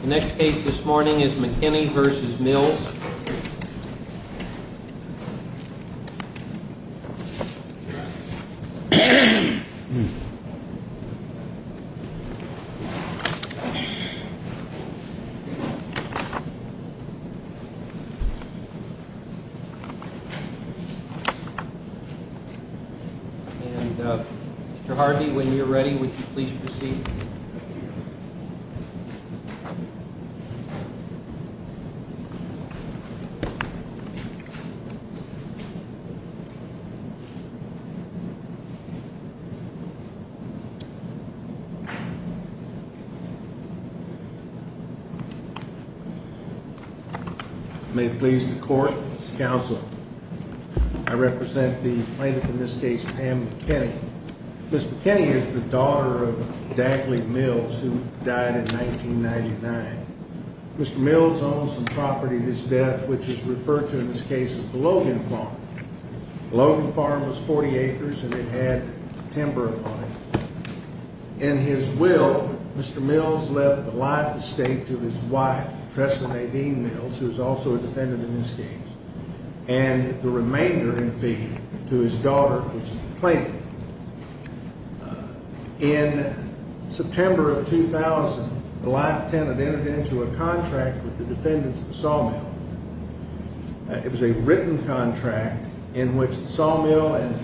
The next case this morning is McKinney v. Mills. Mr. Harvey, when you're ready, would you please proceed? Thank you. May it please the court, counsel, I represent the plaintiff in this case, Pam McKinney. Ms. McKinney is the daughter of Dagley Mills, who died in 1999. Mr. Mills owns some property to his death, which is referred to in this case as the Logan Farm. The Logan Farm was 40 acres and it had timber on it. In his will, Mr. Mills left the life estate to his wife, Tressa Nadine Mills, who is also a defendant in this case, and the remainder in fees to his daughter, which is the plaintiff. In September of 2000, the life tenant entered into a contract with the defendants at the sawmill. It was a written contract in which the sawmill and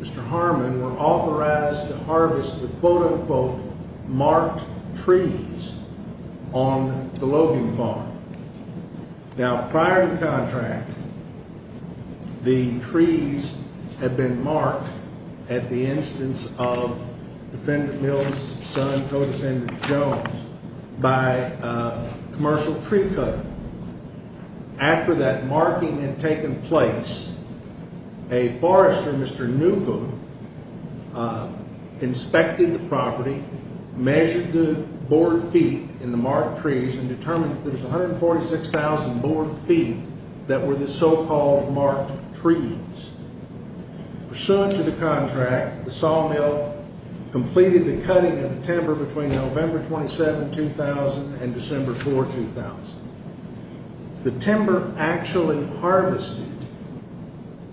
Mr. Harmon were authorized to harvest the quote-unquote marked trees on the Logan Farm. Now, prior to the contract, the trees had been marked at the instance of Defendant Mills' son, Co-Defendant Jones, by a commercial tree cutter. After that marking had taken place, a forester, Mr. Newgood, inspected the property, measured the board feet in the marked trees and determined that there was 146,000 board feet that were the so-called marked trees. Pursuant to the contract, the sawmill completed the cutting of the timber between November 27, 2000 and December 4, 2000. The timber actually harvested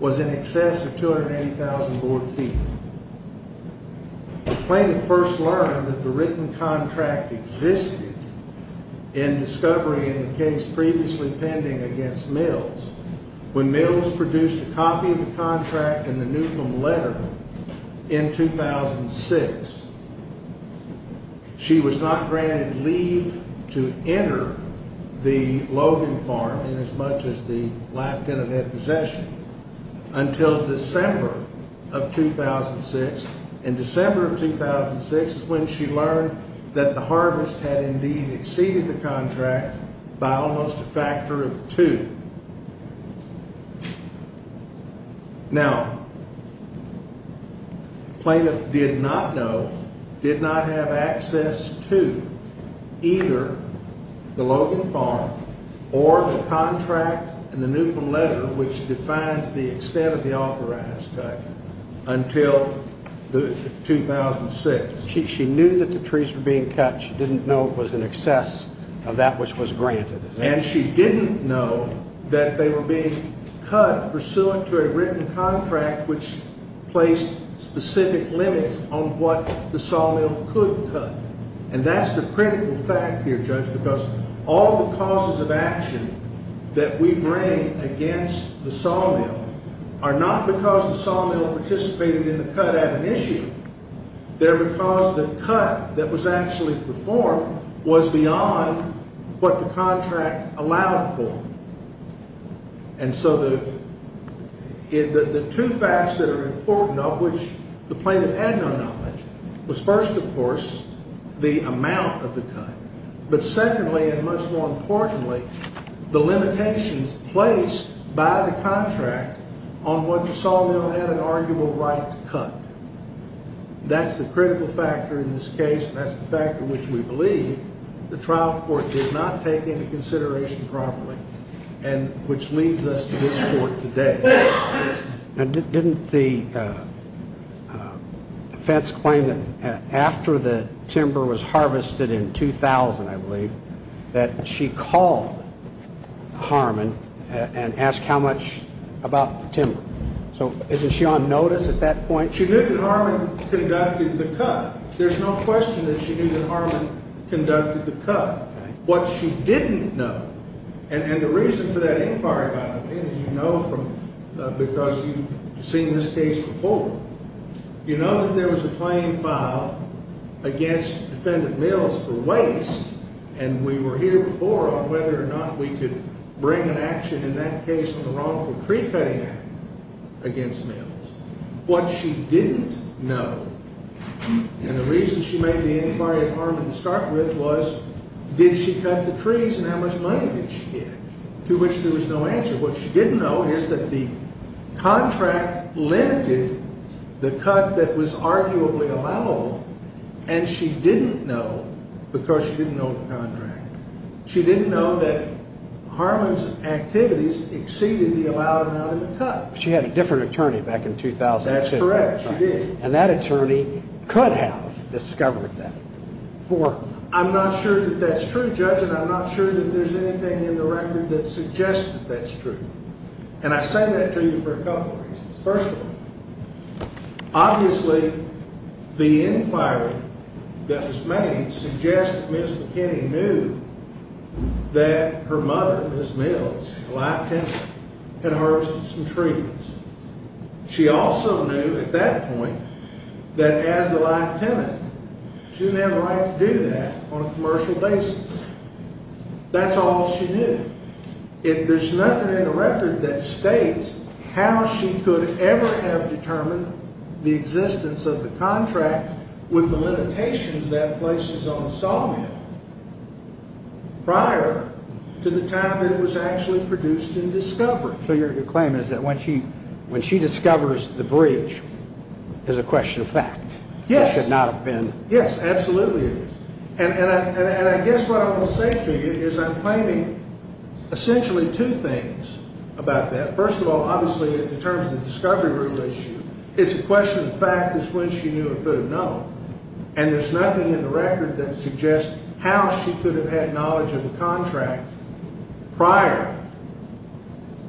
was in excess of 280,000 board feet. The plaintiff first learned that the written contract existed in discovery in the case previously pending against Mills when Mills produced a copy of the contract in the Newcomb Letter in 2006. She was not granted leave to enter the Logan Farm in as much as the life tenant had possession until December of 2006. In December of 2006 is when she learned that the harvest had indeed exceeded the contract by almost a factor of two. Now, the plaintiff did not know, did not have access to either the Logan Farm or the contract in the Newcomb Letter which defines the extent of the authorized cutting until 2006. She knew that the trees were being cut. She didn't know it was in excess of that which was granted. And she didn't know that they were being cut pursuant to a written contract which placed specific limits on what the sawmill could cut. And that's the critical fact here, Judge, because all the causes of action that we bring against the sawmill are not because the sawmill participated in the cut ad initio, they're because the cut that was actually performed was beyond what the contract allowed for. And so the two facts that are important of which the plaintiff had no knowledge was first, of course, the amount of the cut, but secondly and much more importantly, the limitations placed by the contract on whether the sawmill had an arguable right to cut. That's the critical factor in this case. That's the factor which we believe the trial court did not take into consideration properly and which leads us to this court today. Didn't the defense claim that after the timber was harvested in 2000, I believe, that she called Harmon and asked how much about the timber? So isn't she on notice at that point? She knew that Harmon conducted the cut. There's no question that she knew that Harmon conducted the cut. What she didn't know, and the reason for that inquiry, by the way, and you know because you've seen this case before, you know that there was a claim filed against Defendant Mills for waste, and we were here before on whether or not we could bring an action in that case on the wrongful pre-cutting act against Mills. What she didn't know, and the reason she made the inquiry of Harmon to start with, was did she cut the trees and how much money did she get, to which there was no answer. What she didn't know is that the contract limited the cut that was arguably allowable, and she didn't know because she didn't know the contract. She didn't know that Harmon's activities exceeded the allowed amount in the cut. She had a different attorney back in 2006. That's correct. She did. And that attorney could have discovered that. I'm not sure that that's true, Judge, and I'm not sure that there's anything in the record that suggests that that's true. And I say that to you for a couple of reasons. First of all, obviously the inquiry that was made suggests that Ms. McKinney knew that her mother, Ms. Mills, a live tenant, had harvested some trees. She also knew at that point that as the live tenant, she didn't have a right to do that on a commercial basis. That's all she knew. There's nothing in the record that states how she could ever have determined the existence of the contract with the limitations that places on sawmill prior to the time that it was actually produced in discovery. So your claim is that when she discovers the breach, it's a question of fact. Yes. It should not have been. Yes, absolutely. And I guess what I want to say to you is I'm claiming essentially two things about that. First of all, obviously in terms of the discovery rule issue, it's a question of fact as to when she knew or could have known. And there's nothing in the record that suggests how she could have had knowledge of the contract prior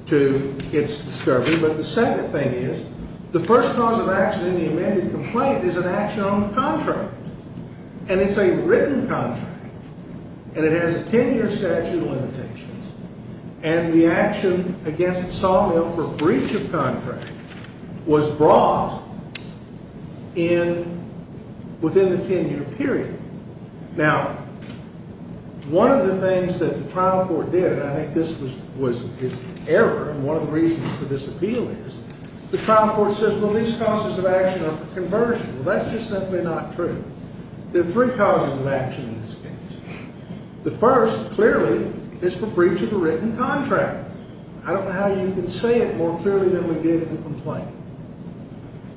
to its discovery. But the second thing is the first cause of action in the amended complaint is an action on the contract. And it's a written contract. And it has a 10-year statute of limitations. And the action against sawmill for breach of contract was brought in within the 10-year period. Now, one of the things that the trial court did, and I think this was an error, and one of the reasons for this appeal is the trial court says, well, these causes of action are for conversion. Well, that's just simply not true. There are three causes of action in this case. The first clearly is for breach of a written contract. I don't know how you can say it more clearly than we did in the complaint.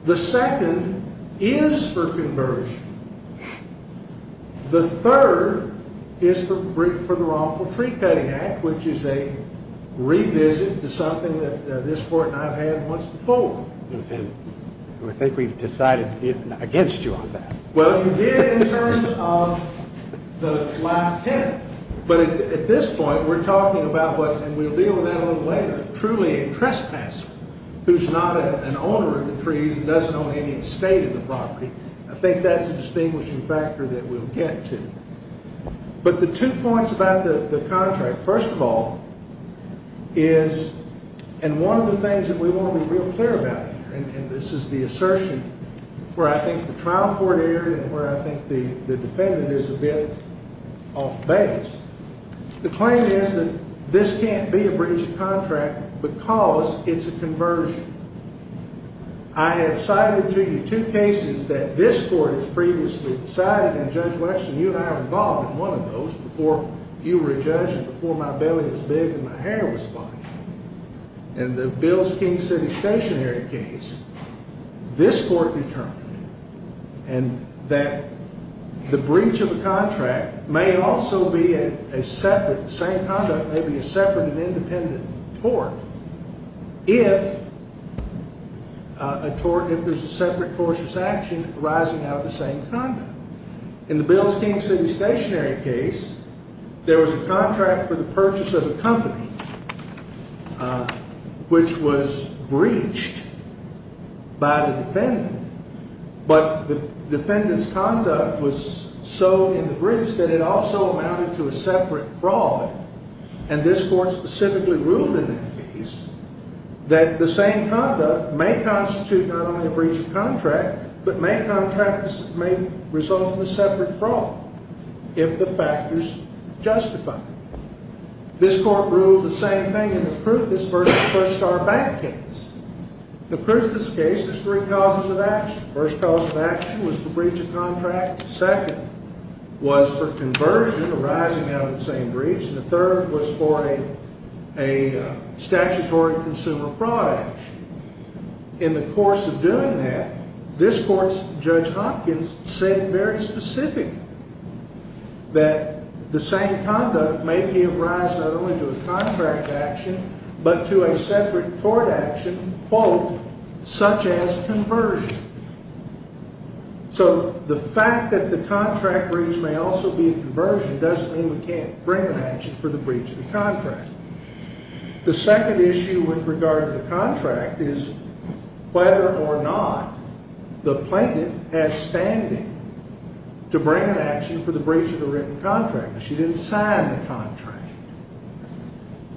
The second is for conversion. The third is for the wrongful tree-cutting act, which is a revisit to something that this court not had once before. And I think we've decided against you on that. Well, you did in terms of the last 10. But at this point, we're talking about what, and we'll deal with that a little later, truly a trespasser who's not an owner of the trees and doesn't own any estate of the property. I think that's a distinguishing factor that we'll get to. But the two points about the contract, first of all, is, and one of the things that we want to be real clear about here, and this is the assertion where I think the trial court erred and where I think the defendant is a bit off base, the claim is that this can't be a breach of contract because it's a conversion. I have cited to you two cases that this court has previously cited, and Judge Weston, you and I were involved in one of those before you were a judge and before my belly was big and my hair was fine. In the Bills-King City Stationery case, this court determined that the breach of a contract may also be a separate, the same conduct may be a separate and independent tort if there's a separate tortious action arising out of the same conduct. In the Bills-King City Stationery case, there was a contract for the purchase of a company which was breached by the defendant, but the defendant's conduct was so in the breach that it also amounted to a separate fraud, and this court specifically ruled in that case that the same conduct may constitute not only a breach of contract, but may result in a separate fraud if the factors justify it. This court ruled the same thing in the Prufus v. First Star Bank case. The Prufus case has three causes of action. The first cause of action was the breach of contract. The second was for conversion arising out of the same breach, and the third was for a statutory consumer fraud action. In the course of doing that, this court's Judge Hopkins said very specifically that the same conduct may give rise not only to a contract action, but to a separate tort action, quote, such as conversion. So the fact that the contract breach may also be a conversion doesn't mean we can't bring an action for the breach of the contract. The second issue with regard to the contract is whether or not the plaintiff has standing to bring an action for the breach of the written contract. She didn't sign the contract,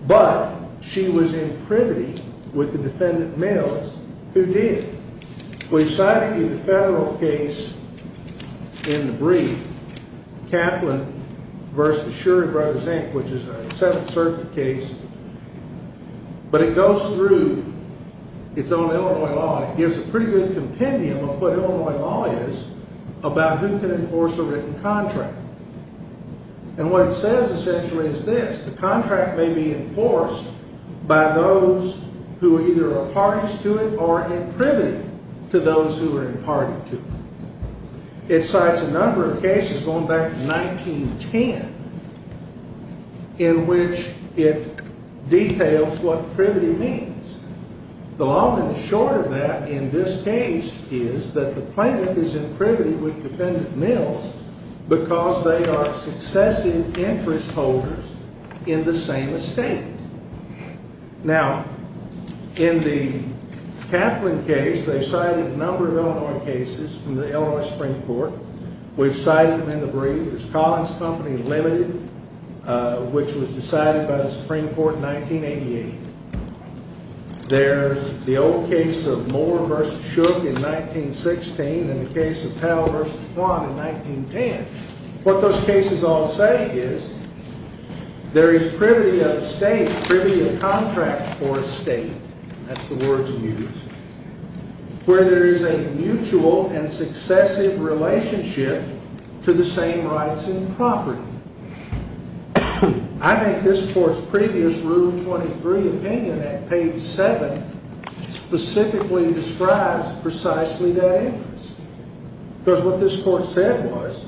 but she was in privity with the defendant Mills, who did. We've cited in the federal case in the brief Kaplan v. Shur and Brothers, Inc., which is a Seventh Circuit case, but it goes through its own Illinois law and it gives a pretty good compendium of what Illinois law is about who can enforce a written contract. And what it says, essentially, is this. The contract may be enforced by those who either are parties to it or in privity to those who are in party to it. It cites a number of cases going back to 1910 in which it details what privity means. The long and the short of that in this case is that the plaintiff is in privity with defendant Mills because they are successive interest holders in the same estate. Now, in the Kaplan case, they cited a number of Illinois cases from the Illinois Supreme Court. We've cited them in the brief. There's Collins Company Limited, which was decided by the Supreme Court in 1988. There's the old case of Moore v. Shook in 1916 and the case of Powell v. Kwan in 1910. What those cases all say is there is privity of state, privity of contract for a state. That's the word used. Where there is a mutual and successive relationship to the same rights and property. I think this Court's previous Rule 23 opinion at page 7 specifically describes precisely that interest because what this Court said was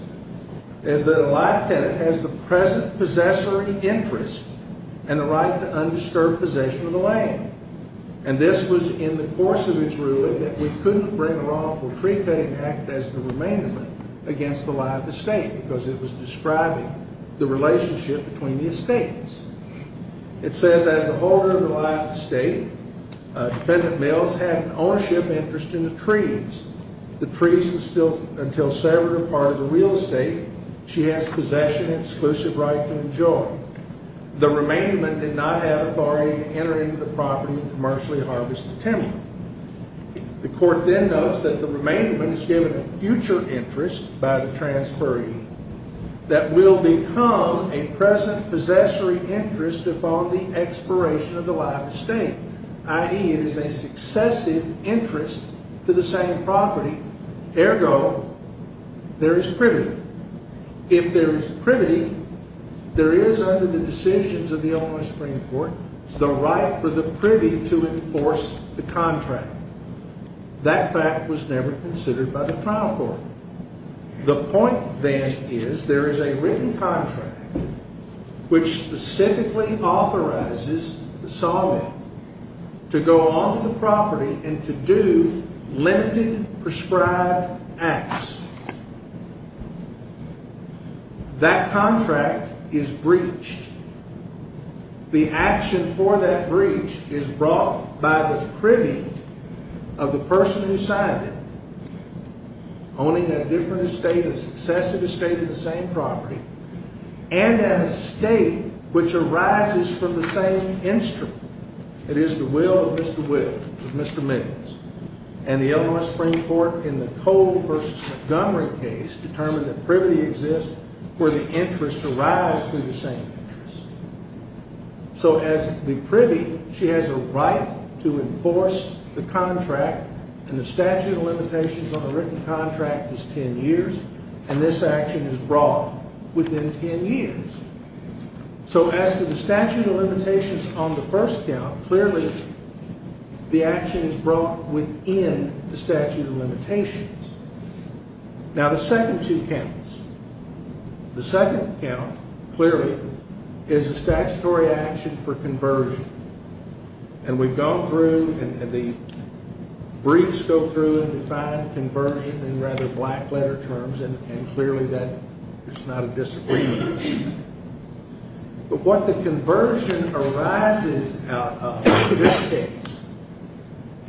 is that a life tenant has the present possessory interest and the right to undisturbed possession of the land. And this was in the course of its ruling that we couldn't bring a wrongful tree-cutting act as the remaindment against the lie of the state because it was describing the relationship between the estates. It says, as the holder of the lie of the state, defendant Mills had an ownership interest in the trees. The trees are still until severed a part of the real estate she has possession and exclusive right to enjoy. The remaindment did not have authority to enter into the property and commercially harvest the timber. The Court then notes that the remaindment is given a future interest by the transferee that will become a present possessory interest upon the expiration of the lie of the state, i.e., it is a successive interest to the same property. Ergo, there is privity. If there is privity, there is under the decisions of the Illinois Supreme Court the right for the privy to enforce the contract. That fact was never considered by the trial court. The point, then, is there is a written contract which specifically authorizes the solving to go onto the property and to do limited prescribed acts. That contract is breached. The action for that breach is brought by the privy of the person who signed it, owning a different estate, a successive estate of the same property, and an estate which arises from the same instrument. It is the will of Mr. Williams, of Mr. Mills, and the Illinois Supreme Court in the Cole v. Montgomery case determined that privity exists where the interest arises from the same interest. So as the privy, she has a right to enforce the contract, and the statute of limitations on the written contract is 10 years, and this action is brought within 10 years. So as to the statute of limitations on the first count, clearly the action is brought within the statute of limitations. Now, the second two counts. The second count, clearly, is a statutory action for conversion, and we've gone through and the briefs go through and define conversion in rather black-letter terms, and clearly that is not a disagreement. But what the conversion arises out of in this case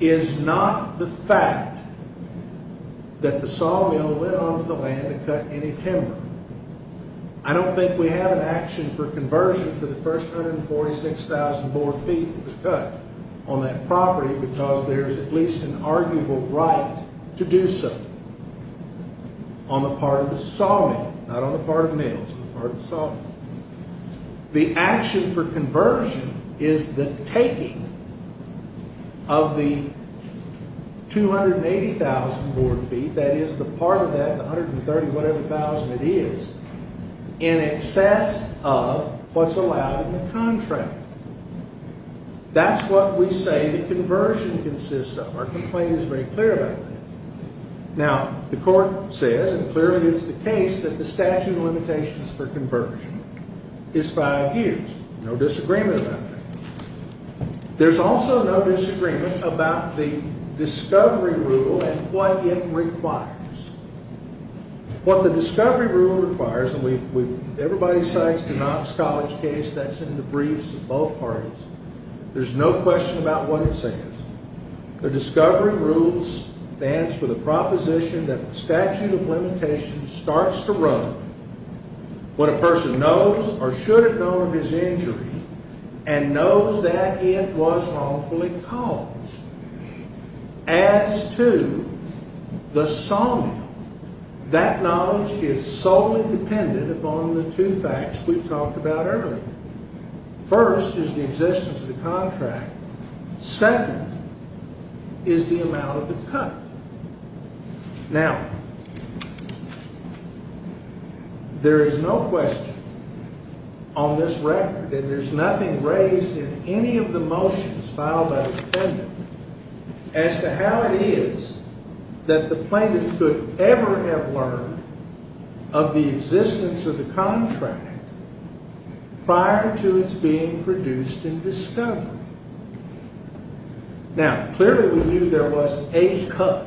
is not the fact that the sawmill went onto the land and cut any timber. I don't think we have an action for conversion for the first 146,000 board feet that was cut on that property because there is at least an arguable right to do so on the part of the sawmill, not on the part of Mills, but on the part of the sawmill. The action for conversion is the taking of the 280,000 board feet, that is the part of that, the 130-whatever-thousand it is, in excess of what's allowed in the contract. That's what we say the conversion consists of. Our complaint is very clear about that. Now, the court says, and clearly it's the case, that the statute of limitations for conversion is five years. No disagreement about that. There's also no disagreement about the discovery rule and what it requires. What the discovery rule requires, and everybody cites the Knox College case that's in the briefs of both parties, there's no question about what it says. The discovery rule stands for the proposition that the statute of limitations starts to run when a person knows or should have known of his injury and knows that it was wrongfully caused. As to the sawmill, that knowledge is solely dependent upon the two facts we've talked about earlier. First is the existence of the contract. Second is the amount of the cut. Now, there is no question on this record, and there's nothing raised in any of the motions filed by the defendant, as to how it is that the plaintiff could ever have learned of the existence of the contract prior to its being produced and discovered. Now, clearly we knew there was a cut.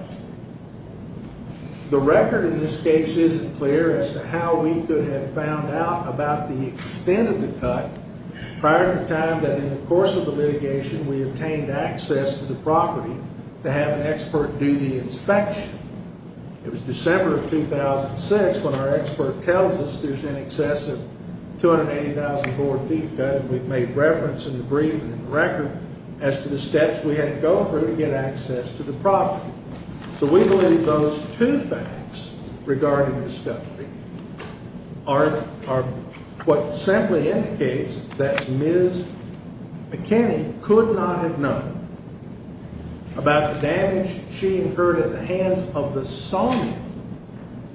The record in this case isn't clear as to how we could have found out about the extent of the cut prior to the time that in the course of the litigation we obtained access to the property to have an expert do the inspection. It was December of 2006 when our expert tells us there's in excess of 280,000 board feet cut, and we've made reference in the brief and in the record as to the steps we had to go through to get access to the property. So we believe those two facts regarding discovery are what simply indicates that Ms. McKinney could not have known about the damage she incurred at the hands of the sawmill,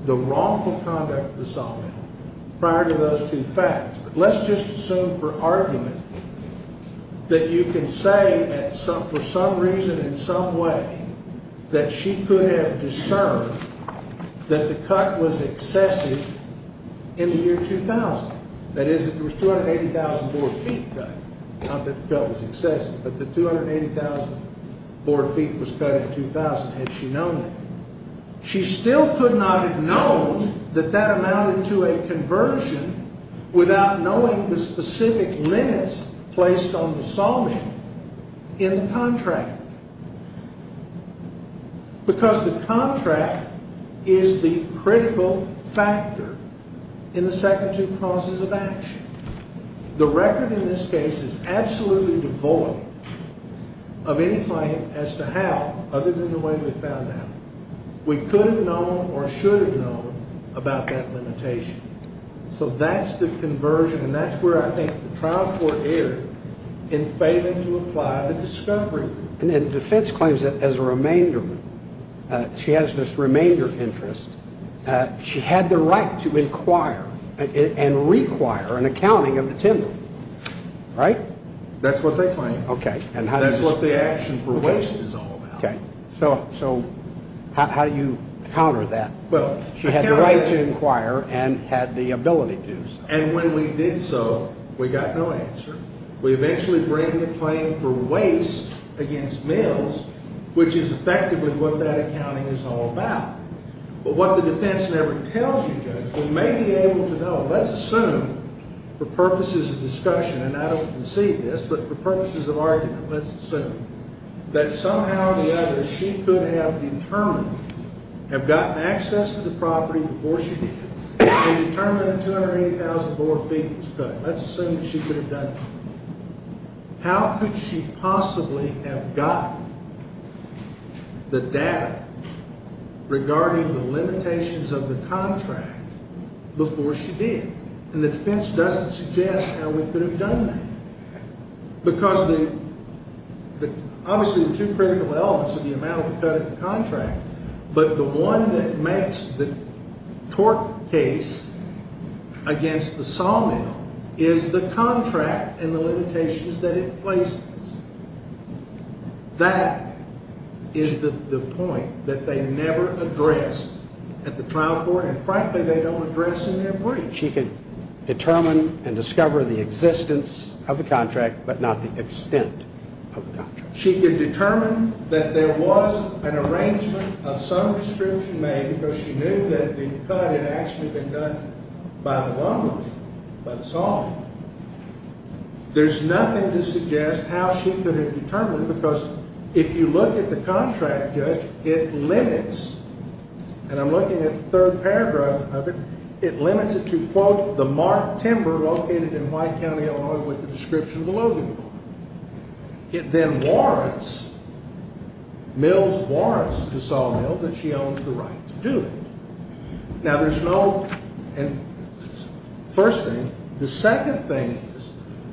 the wrongful conduct of the sawmill, prior to those two facts. But let's just assume for argument that you can say for some reason in some way that she could have discerned that the cut was excessive in the year 2000. That is, that there was 280,000 board feet cut. Not that the cut was excessive, but that 280,000 board feet was cut in 2000. Had she known that? She still could not have known that that amounted to a conversion without knowing the specific limits placed on the sawmill in the contract, because the contract is the critical factor in the second two causes of action. The record in this case is absolutely devoid of any claim as to how, other than the way we found out, we could have known or should have known about that limitation. So that's the conversion, and that's where I think the trial court erred in failing to apply the discovery rule. And defense claims that as a remainder, she has this remainder interest. She had the right to inquire and require an accounting of the timber, right? That's what they claim. Okay. That's what the action for waste is all about. Okay. So how do you counter that? She had the right to inquire and had the ability to do so. And when we did so, we got no answer. We eventually bring the claim for waste against mills, which is effectively what that accounting is all about. But what the defense never tells you, Judge, we may be able to know. Let's assume for purposes of discussion, and I don't concede this, but for purposes of argument, let's assume that somehow or the other, she could have determined, have gotten access to the property before she did, and determined that 280,000 bore feet was cut. Let's assume that she could have done that. How could she possibly have gotten the data regarding the limitations of the contract before she did? And the defense doesn't suggest how we could have done that. Because obviously the two critical elements are the amount of the cut in the contract, but the one that makes the tort case against the sawmill is the contract and the limitations that it places. That is the point that they never address at the trial court, and frankly they don't address in their brief. She could determine and discover the existence of the contract, but not the extent of the contract. She could determine that there was an arrangement of some restriction made because she knew that the cut had actually been done by the lumber team, by the sawmill. There's nothing to suggest how she could have determined, because if you look at the contract, Judge, it limits. And I'm looking at the third paragraph of it. It limits it to, quote, the marked timber located in White County, Illinois, with the description of the loading farm. It then warrants, mills warrants to sawmill that she owns the right to do it. Now there's no, first thing. The second thing is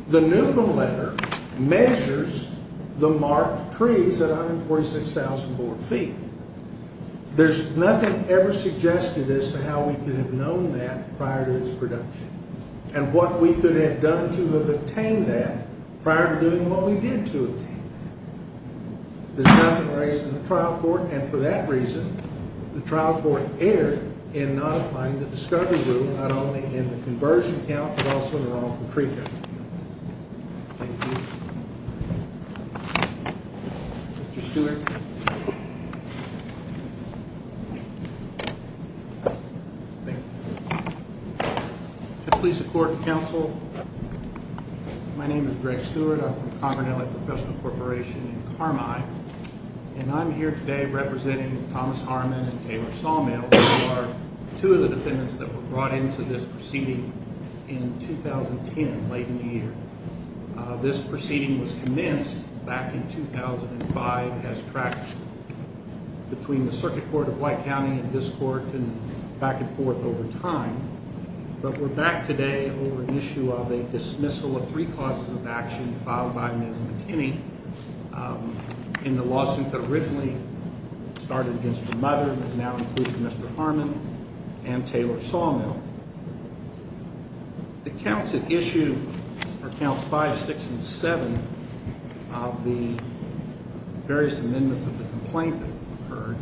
the Newman letter measures the marked trees at 146,000 bore feet. There's nothing ever suggested as to how we could have known that prior to its production and what we could have done to have obtained that prior to doing what we did to obtain that. There's nothing raised in the trial court, and for that reason, the trial court erred in not applying the discovery rule, not only in the conversion count but also in the wrongful tree count. Thank you. Thank you. Mr. Stewart. Thank you. Please support the counsel. My name is Greg Stewart. I'm from Conger Valley Professional Corporation in Carmine, and I'm here today representing Thomas Harmon and Taylor Sawmill, who are two of the defendants that were brought into this proceeding in 2010, late in the year. This proceeding was commenced back in 2005 as practiced between the circuit court of White County and this court and back and forth over time, but we're back today over an issue of a dismissal of three causes of action filed by Ms. McKinney in the lawsuit that originally started against her mother, but now includes Mr. Harmon and Taylor Sawmill. The counts at issue are counts 5, 6, and 7 of the various amendments of the complaint that occurred,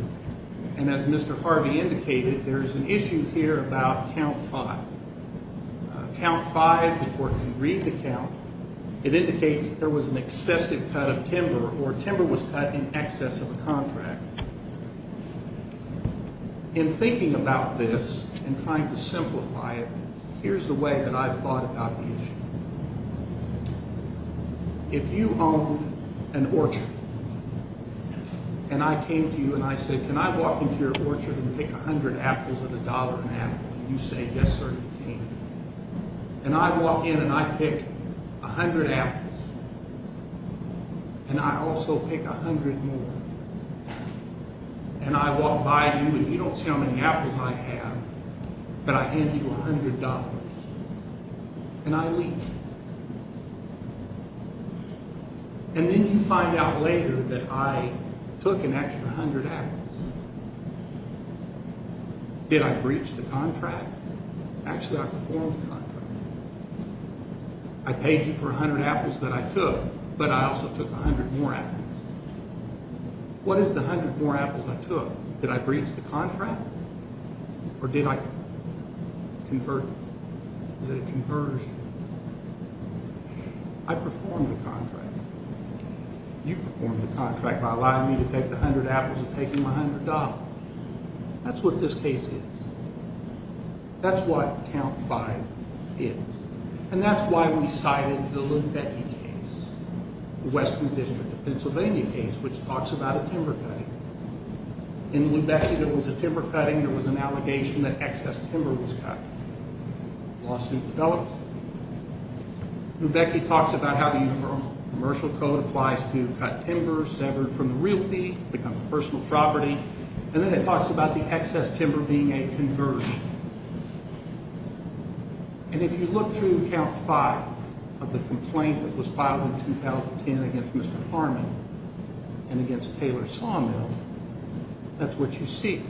and as Mr. Harvey indicated, there is an issue here about count 5. Count 5, before you read the count, it indicates that there was an excessive cut of timber or timber was cut in excess of a contract. In thinking about this and trying to simplify it, here's the way that I've thought about the issue. If you own an orchard and I came to you and I said, can I walk into your orchard and pick 100 apples at a dollar an apple? You say, yes, sir, you can. And I walk in and I pick 100 apples, and I also pick 100 more. And I walk by you and you don't see how many apples I have, but I hand you $100, and I leave. And then you find out later that I took an extra 100 apples. Did I breach the contract? Actually, I performed the contract. I paid you for 100 apples that I took, but I also took 100 more apples. What is the 100 more apples I took? Did I breach the contract? Or did it converge? I performed the contract. You performed the contract by allowing me to take the 100 apples and taking my $100. That's what this case is. That's what count 5 is. And that's why we cited the Lubecki case, the Western District of Pennsylvania case, which talks about a timber cutting. In Lubecki, there was a timber cutting. There was an allegation that excess timber was cut. The lawsuit develops. Lubecki talks about how the Uniform Commercial Code applies to cut timber, severed from the realty, becomes a personal property. And then it talks about the excess timber being a conversion. And if you look through count 5 of the complaint that was filed in 2010 against Mr. Harmon and against Taylor Sawmill, that's what you see.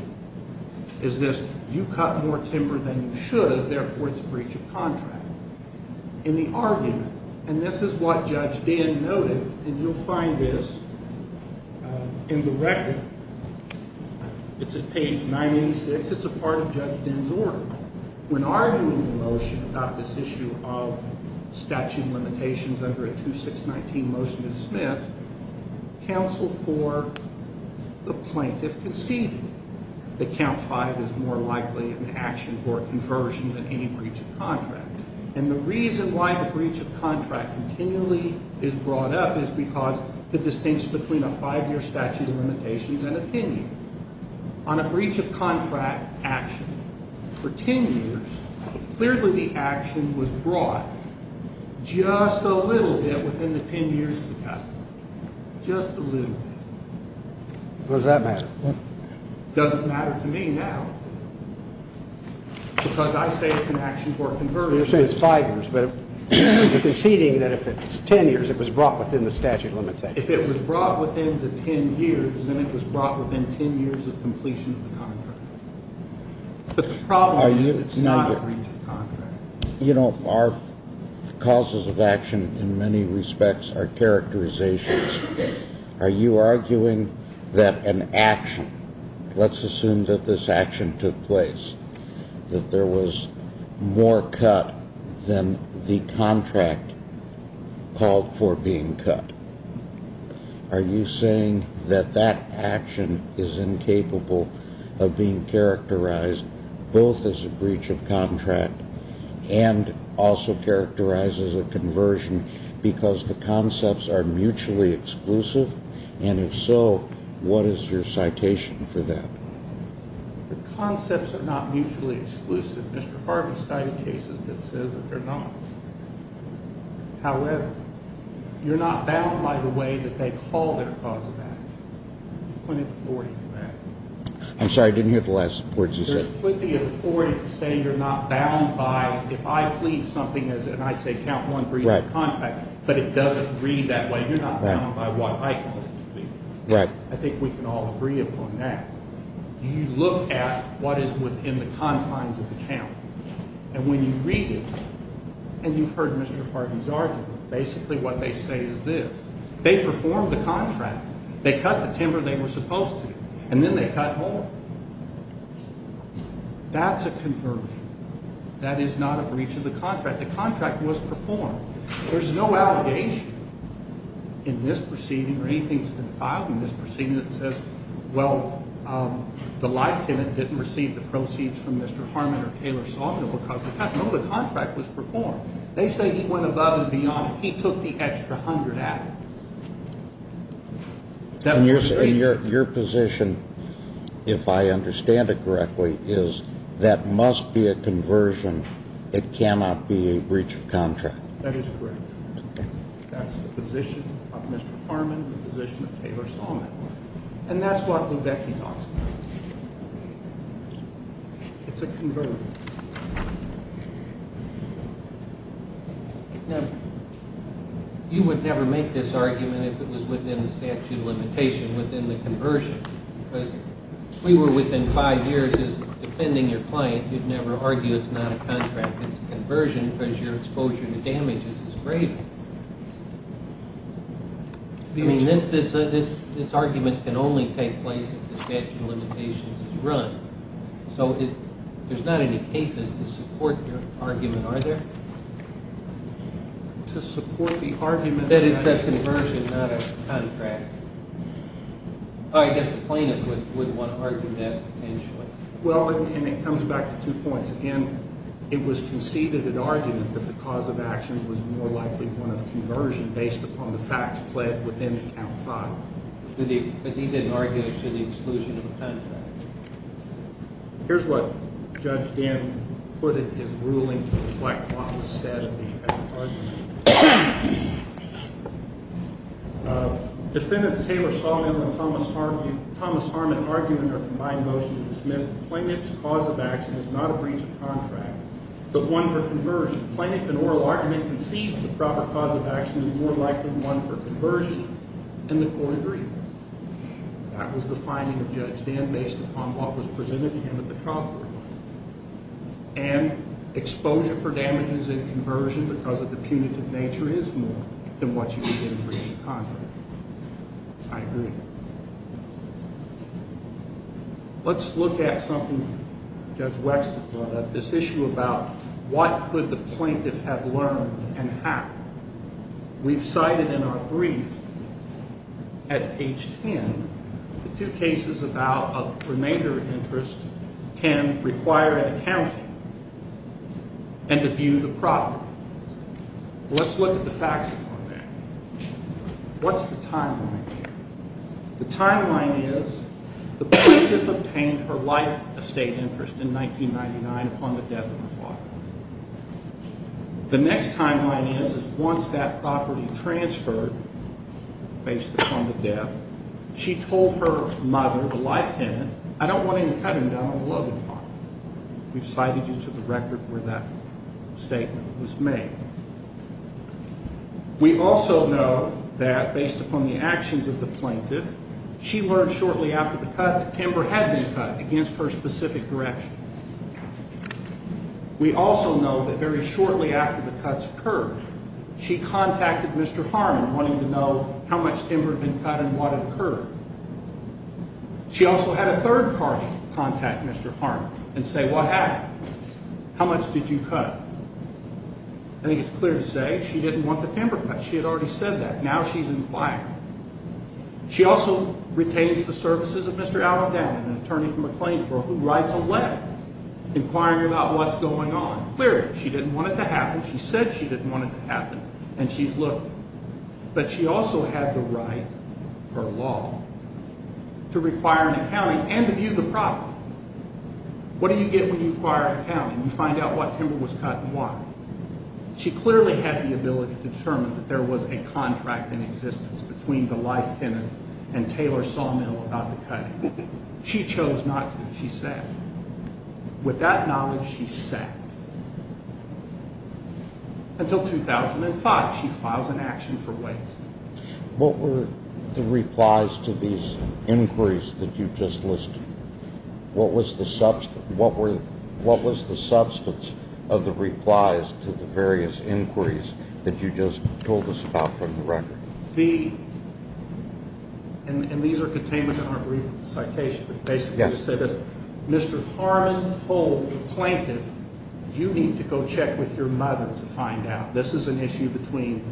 Is this, you cut more timber than you should, therefore it's a breach of contract. In the argument, and this is what Judge Dinn noted, and you'll find this in the record. It's at page 986. It's a part of Judge Dinn's order. When arguing the motion about this issue of statute limitations under a 2619 motion to dismiss, counsel for the plaintiff conceded that count 5 is more likely an action for a conversion than any breach of contract. And the reason why the breach of contract continually is brought up is because the distinction between a 5-year statute of limitations and a 10-year. On a breach of contract action for 10 years, clearly the action was brought just a little bit within the 10 years of the cut. Just a little bit. Does that matter? It doesn't matter to me now because I say it's an action for a conversion. It's 5 years, but you're conceding that if it's 10 years, it was brought within the statute of limitations. If it was brought within the 10 years, then it was brought within 10 years of completion of the contract. But the problem is it's not a breach of contract. You know, our causes of action in many respects are characterizations. Are you arguing that an action, let's assume that this action took place, that there was more cut than the contract called for being cut? Are you saying that that action is incapable of being characterized both as a breach of contract and also characterized as a conversion because the concepts are mutually exclusive? And if so, what is your citation for that? The concepts are not mutually exclusive. Mr. Harvey cited cases that says that they're not. However, you're not bound by the way that they call their cause of action. There's plenty of authority for that. I'm sorry, I didn't hear the last words you said. There's plenty of authority to say you're not bound by if I plead something and I say count one breach of contract, but it doesn't read that way, you're not bound by what I call it. Right. I think we can all agree upon that. You look at what is within the confines of the count, and when you read it, and you've heard Mr. Harvey's argument, basically what they say is this. They performed the contract. They cut the timber they were supposed to, and then they cut more. That's a conversion. That is not a breach of the contract. The contract was performed. There's no allegation in this proceeding or anything that's been filed in this proceeding that says, well, the life tenant didn't receive the proceeds from Mr. Harmon or Taylor Sawmill because of that. No, the contract was performed. They say he went above and beyond. He took the extra hundred out. And your position, if I understand it correctly, is that must be a conversion. It cannot be a breach of contract. That is correct. That's the position of Mr. Harmon, the position of Taylor Sawmill. And that's what Lubecki talks about. It's a conversion. Now, you would never make this argument if it was within the statute of limitation, within the conversion, because if we were within five years as defending your client, you'd never argue it's not a contract. It's a conversion because your exposure to damages is greater. I mean, this argument can only take place if the statute of limitations is run. So there's not any cases to support your argument, are there? To support the argument that it's a conversion, not a contract. I guess the plaintiff would want to argue that potentially. Well, and it comes back to two points. And it was conceded in argument that the cause of action was more likely one of conversion based upon the facts pled within the count five. But he didn't argue it to the exclusion of the contract. Here's what Judge Dan put in his ruling to reflect what was said in the argument. Defendants Taylor Sawmill and Thomas Harmon argue in their combined motion to dismiss the plaintiff's cause of action is not a breach of contract, but one for conversion. The plaintiff in oral argument concedes the proper cause of action is more likely one for conversion in the court agreement. That was the finding of Judge Dan based upon what was presented to him at the trial court. And exposure for damages in conversion because of the punitive nature is more than what you would get in a breach of contract. I agree. Let's look at something Judge Wexler brought up, this issue about what could the plaintiff have learned and how. We've cited in our brief at page ten the two cases about a remainder interest can require an accounting and to view the property. Let's look at the facts on that. What's the timeline here? The timeline is the plaintiff obtained her life estate interest in 1999 upon the death of her father. The next timeline is once that property transferred. Based on the death, she told her mother, the life tenant. I don't want him to cut him down. We've cited you to the record where that statement was made. We also know that based upon the actions of the plaintiff, she learned shortly after the cut timber had been cut against her specific direction. We also know that very shortly after the cuts occurred, she contacted Mr. Harmon wanting to know how much timber had been cut and what had occurred. She also had a third party contact Mr. Harmon and say, what happened? How much did you cut? I think it's clear to say she didn't want the timber cut. She had already said that. Now she's in fire. She also retains the services of Mr. Allendale, an attorney from McLean, who writes a letter inquiring about what's going on. Clearly, she didn't want it to happen. She said she didn't want it to happen, and she's looking. But she also had the right, per law, to require an accounting and to view the property. What do you get when you require an accounting? You find out what timber was cut and why. She clearly had the ability to determine that there was a contract in existence between the life tenant and Taylor Sawmill about the cutting. She chose not to. She said. With that knowledge, she sat. Until 2005, she files an action for waste. What were the replies to these inquiries that you just listed? What was the substance of the replies to the various inquiries that you just told us about from the record? And these are contained in our brief citation. But basically it said that Mr. Harmon told the plaintiff, you need to go check with your mother to find out. This is an issue between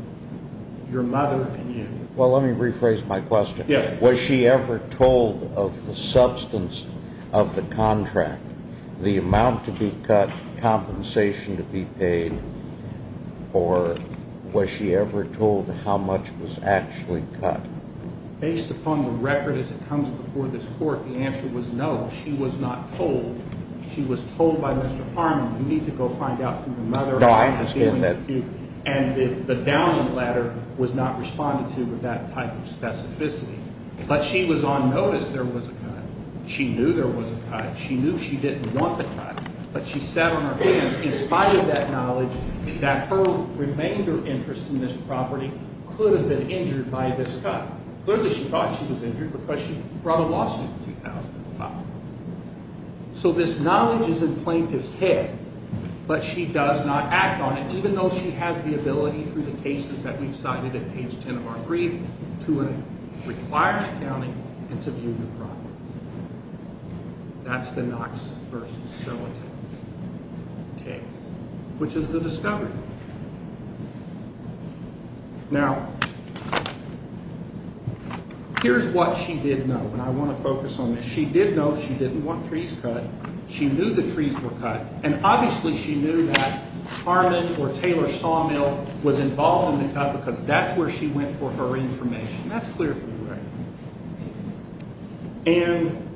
your mother and you. Well, let me rephrase my question. Yes. Was she ever told of the substance of the contract? The amount to be cut, compensation to be paid, or was she ever told how much was actually cut? Based upon the record as it comes before this court, the answer was no. She was not told. She was told by Mr. Harmon, you need to go find out from your mother. No, I understand that. And the downing ladder was not responding to that type of specificity. But she was on notice there was a cut. She knew there was a cut. She knew she didn't want the cut. But she sat on her hands in spite of that knowledge that her remainder interest in this property could have been injured by this cut. Clearly she thought she was injured because she brought a lawsuit in 2005. So this knowledge is in plaintiff's head. But she does not act on it, even though she has the ability through the cases that we've cited at page 10 of our brief to require accounting and to view your property. That's the Knox v. Solita case, which is the discovery. Now, here's what she did know, and I want to focus on this. She did know she didn't want trees cut. She knew the trees were cut, and obviously she knew that Harmon or Taylor Sawmill was involved in the cut because that's where she went for her information. That's clear from the record. And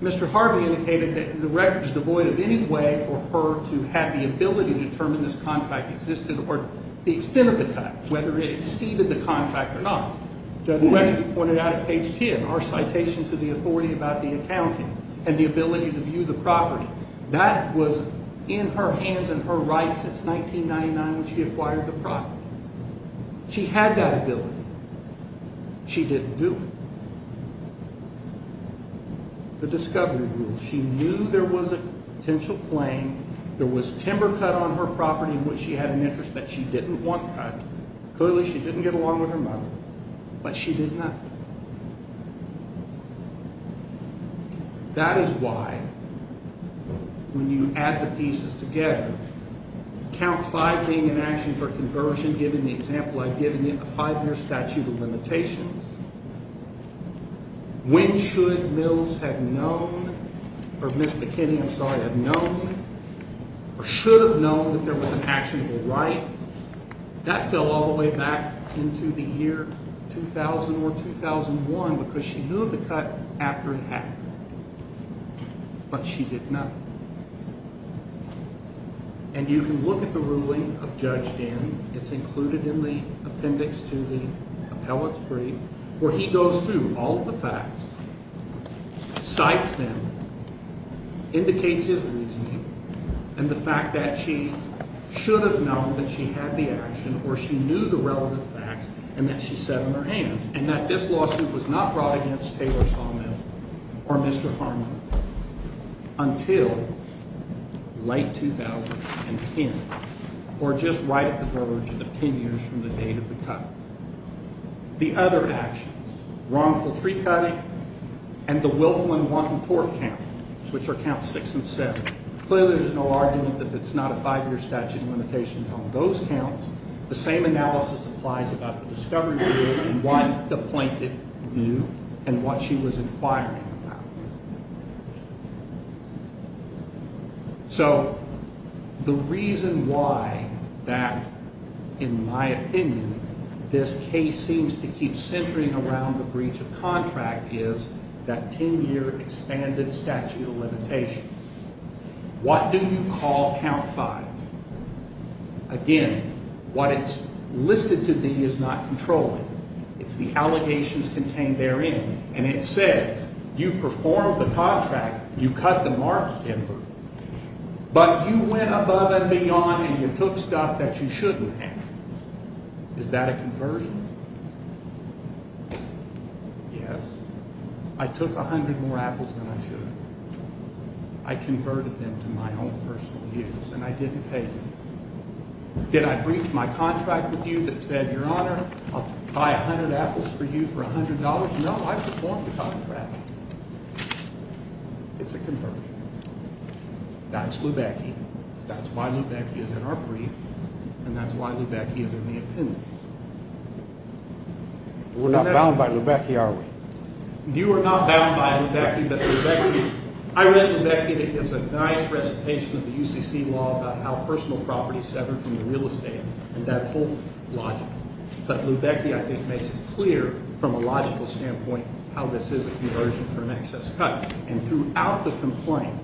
Mr. Harvey indicated that the record is devoid of any way for her to have the ability to determine this contract existed or the extent of the cut, whether it exceeded the contract or not. Judge Wexler pointed out at page 10 our citation to the authority about the accounting and the ability to view the property. That was in her hands and her rights since 1999 when she acquired the property. She had that ability. She didn't do it. The discovery rule. She knew there was a potential claim. There was timber cut on her property in which she had an interest that she didn't want cut. Clearly she didn't get along with her mother, but she did know. That is why when you add the pieces together, count five being in action for conversion, given the example I've given you, a five-year statute of limitations. When should Mills have known or Ms. McKinney, I'm sorry, have known or should have known that there was an actionable right? That fell all the way back into the year 2000 or 2001 because she knew of the cut after it happened, but she did not. And you can look at the ruling of Judge Dan. It's included in the appendix to the appellate where he goes through all of the facts, cites them, indicates his reasoning, and the fact that she should have known that she had the action or she knew the relevant facts and that she said in her hands and that this lawsuit was not brought against Taylor Sawmill or Mr. Harmon until late 2010. Or just right at the verge of the 10 years from the date of the cut. The other actions, wrongful tree cutting and the Wilflin-Wanton tort count, which are counts six and seven. Clearly there's no argument that it's not a five-year statute of limitations on those counts. The same analysis applies about the discovery ruling and why the plaintiff knew and what she was inquiring about. So the reason why that, in my opinion, this case seems to keep centering around the breach of contract is that 10-year expanded statute of limitations. What do you call count five? Again, what it's listed to be is not controlling. It's the allegations contained therein. And it says you performed the contract. You cut the marks in her. But you went above and beyond and you took stuff that you shouldn't have. Is that a conversion? Yes. I took 100 more apples than I should have. I converted them to my own personal use and I didn't pay them. Did I breach my contract with you that said, Your Honor, I'll buy 100 apples for you for $100? No, I performed the contract. It's a conversion. That's Lubecki. That's why Lubecki is in our brief. And that's why Lubecki is in the appendix. We're not bound by Lubecki, are we? You are not bound by Lubecki. I read Lubecki and it gives a nice recitation of the UCC law about how personal property is severed from the real estate and that whole logic. But Lubecki, I think, makes it clear from a logical standpoint how this is a conversion for an excess cut. And throughout the complaint,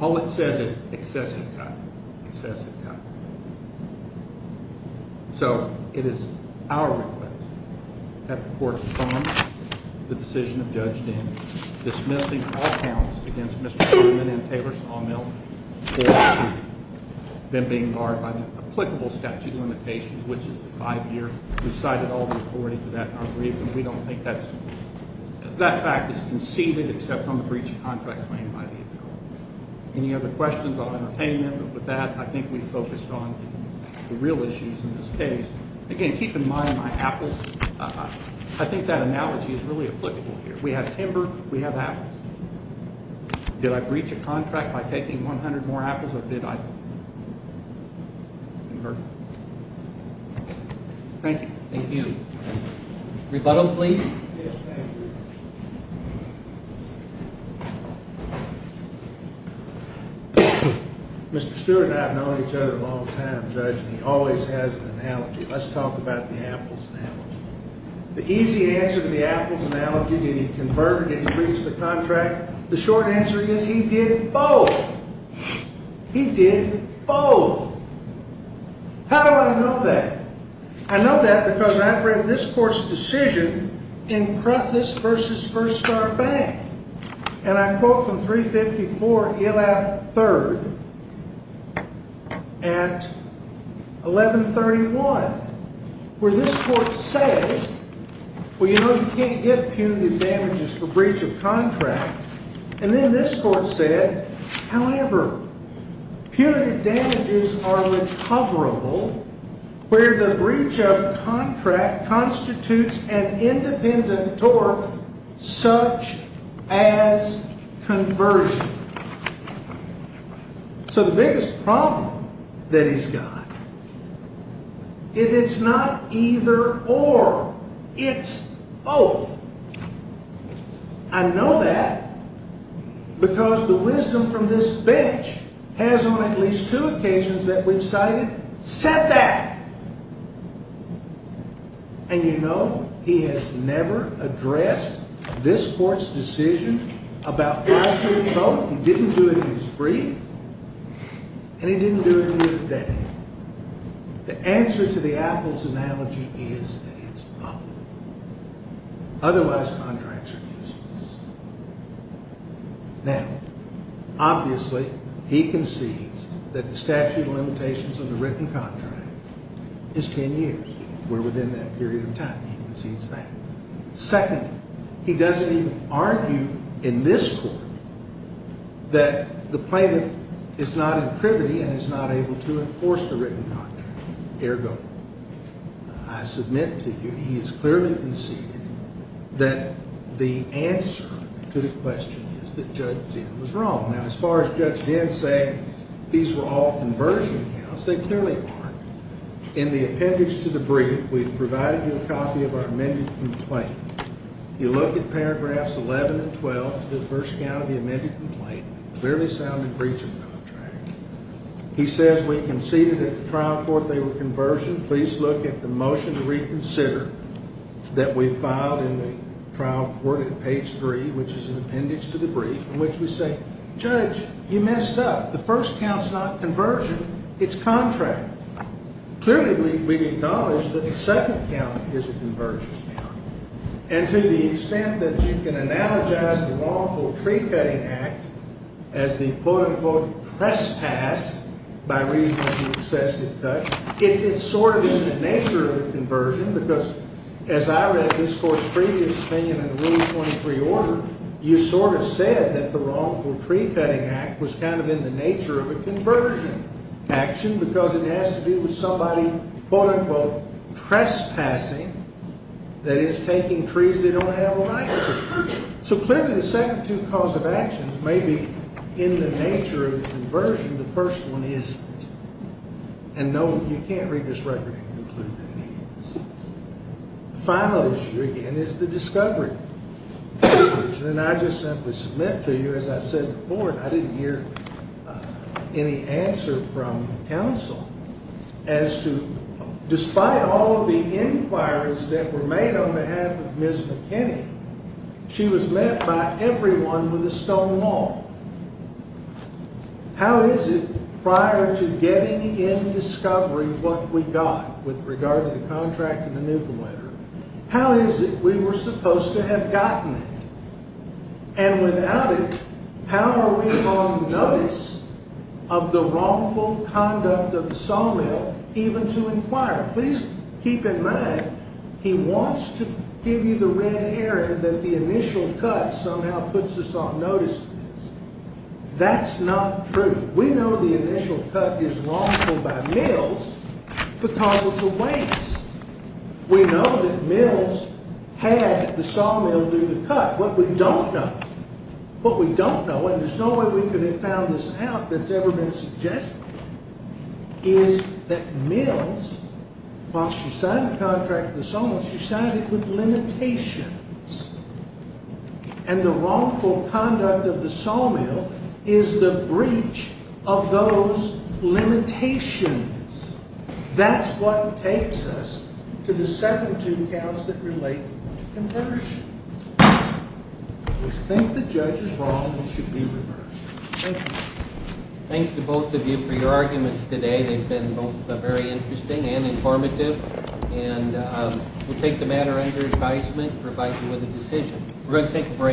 all it says is excessive cut, excessive cut. So it is our request that the court fund the decision of Judge Daniels dismissing all counts against Mr. Solomon and Taylor Sawmill for them being barred by the applicable statute of limitations, which is the five-year. We've cited all the authority for that in our briefing. We don't think that's – that fact is conceded except on the breach of contract claimed by the appeal. Any other questions on entertainment? With that, I think we've focused on the real issues in this case. Again, keep in mind my apples. I think that analogy is really applicable here. We have timber. We have apples. Did I breach a contract by taking 100 more apples or did I convert them? Thank you. Thank you. Rebuttal, please. Yes, thank you. Thank you. Mr. Stewart and I have known each other a long time, Judge, and he always has an analogy. Let's talk about the apples now. The easy answer to the apples analogy, did he convert or did he breach the contract, the short answer is he did both. He did both. How do I know that? I know that because I've read this court's decision in this versus First Star Bank. And I quote from 354 Elab 3rd at 1131 where this court says, well, you know, you can't get punitive damages for breach of contract. And then this court said, however, punitive damages are recoverable where the breach of contract constitutes an independent tort such as conversion. So the biggest problem that he's got is it's not either or. It's both. I know that because the wisdom from this bench has on at least two occasions that we've cited said that. And, you know, he has never addressed this court's decision about five-year total. He didn't do it in his brief. And he didn't do it in a day. The answer to the apples analogy is that it's both. Otherwise, contracts are useless. Now, obviously, he concedes that the statute of limitations of the written contract is 10 years. We're within that period of time. He concedes that. Secondly, he doesn't even argue in this court that the plaintiff is not in privity and is not able to enforce the written contract. Ergo, I submit to you he has clearly conceded that the answer to the question is that Judge Dinn was wrong. Now, as far as Judge Dinn saying these were all conversion counts, they clearly aren't. In the appendix to the brief, we've provided you a copy of our amended complaint. You look at paragraphs 11 and 12, the first count of the amended complaint, clearly sounded breach of contract. He says we conceded at the trial court they were conversion. Please look at the motion to reconsider that we filed in the trial court at page 3, which is an appendix to the brief, in which we say, Judge, you messed up. The first count's not conversion. It's contract. Clearly, we acknowledge that the second count is a conversion count. And to the extent that you can analogize the wrongful tree-cutting act as the, quote-unquote, trespass by reason of the excessive cut, it's sort of in the nature of a conversion because, as I read this court's previous opinion in Rule 23 order, you sort of said that the wrongful tree-cutting act was kind of in the nature of a conversion action because it has to do with somebody, quote-unquote, trespassing, that is, taking trees they don't have a right to. So, clearly, the second two cause of actions may be in the nature of a conversion. The first one isn't. And, no, you can't read this record and conclude that it is. The final issue, again, is the discovery. And I just simply submit to you, as I said before, and I didn't hear any answer from counsel, as to despite all of the inquiries that were made on behalf of Ms. McKinney, she was met by everyone with a stone wall. How is it, prior to getting in discovery what we got with regard to the contract and the nuclear letter, how is it we were supposed to have gotten it? And, without it, how are we on notice of the wrongful conduct of the sawmill, even to inquire? Please keep in mind, he wants to give you the red herring that the initial cut somehow puts us on notice of this. That's not true. We know the initial cut is wrongful by Mills because it's a waste. We know that Mills had the sawmill do the cut. What we don't know, what we don't know, and there's no way we could have found this out that's ever been suggested, is that Mills, once she signed the contract with the sawmill, she signed it with limitations. And the wrongful conduct of the sawmill is the breach of those limitations. That's what takes us to the second two accounts that relate to conversion. We think the judge is wrong and should be reversed. Thank you. Thanks to both of you for your arguments today. They've been both very interesting and informative. And we'll take the matter under advisement and provide you with a decision. We're going to take a break.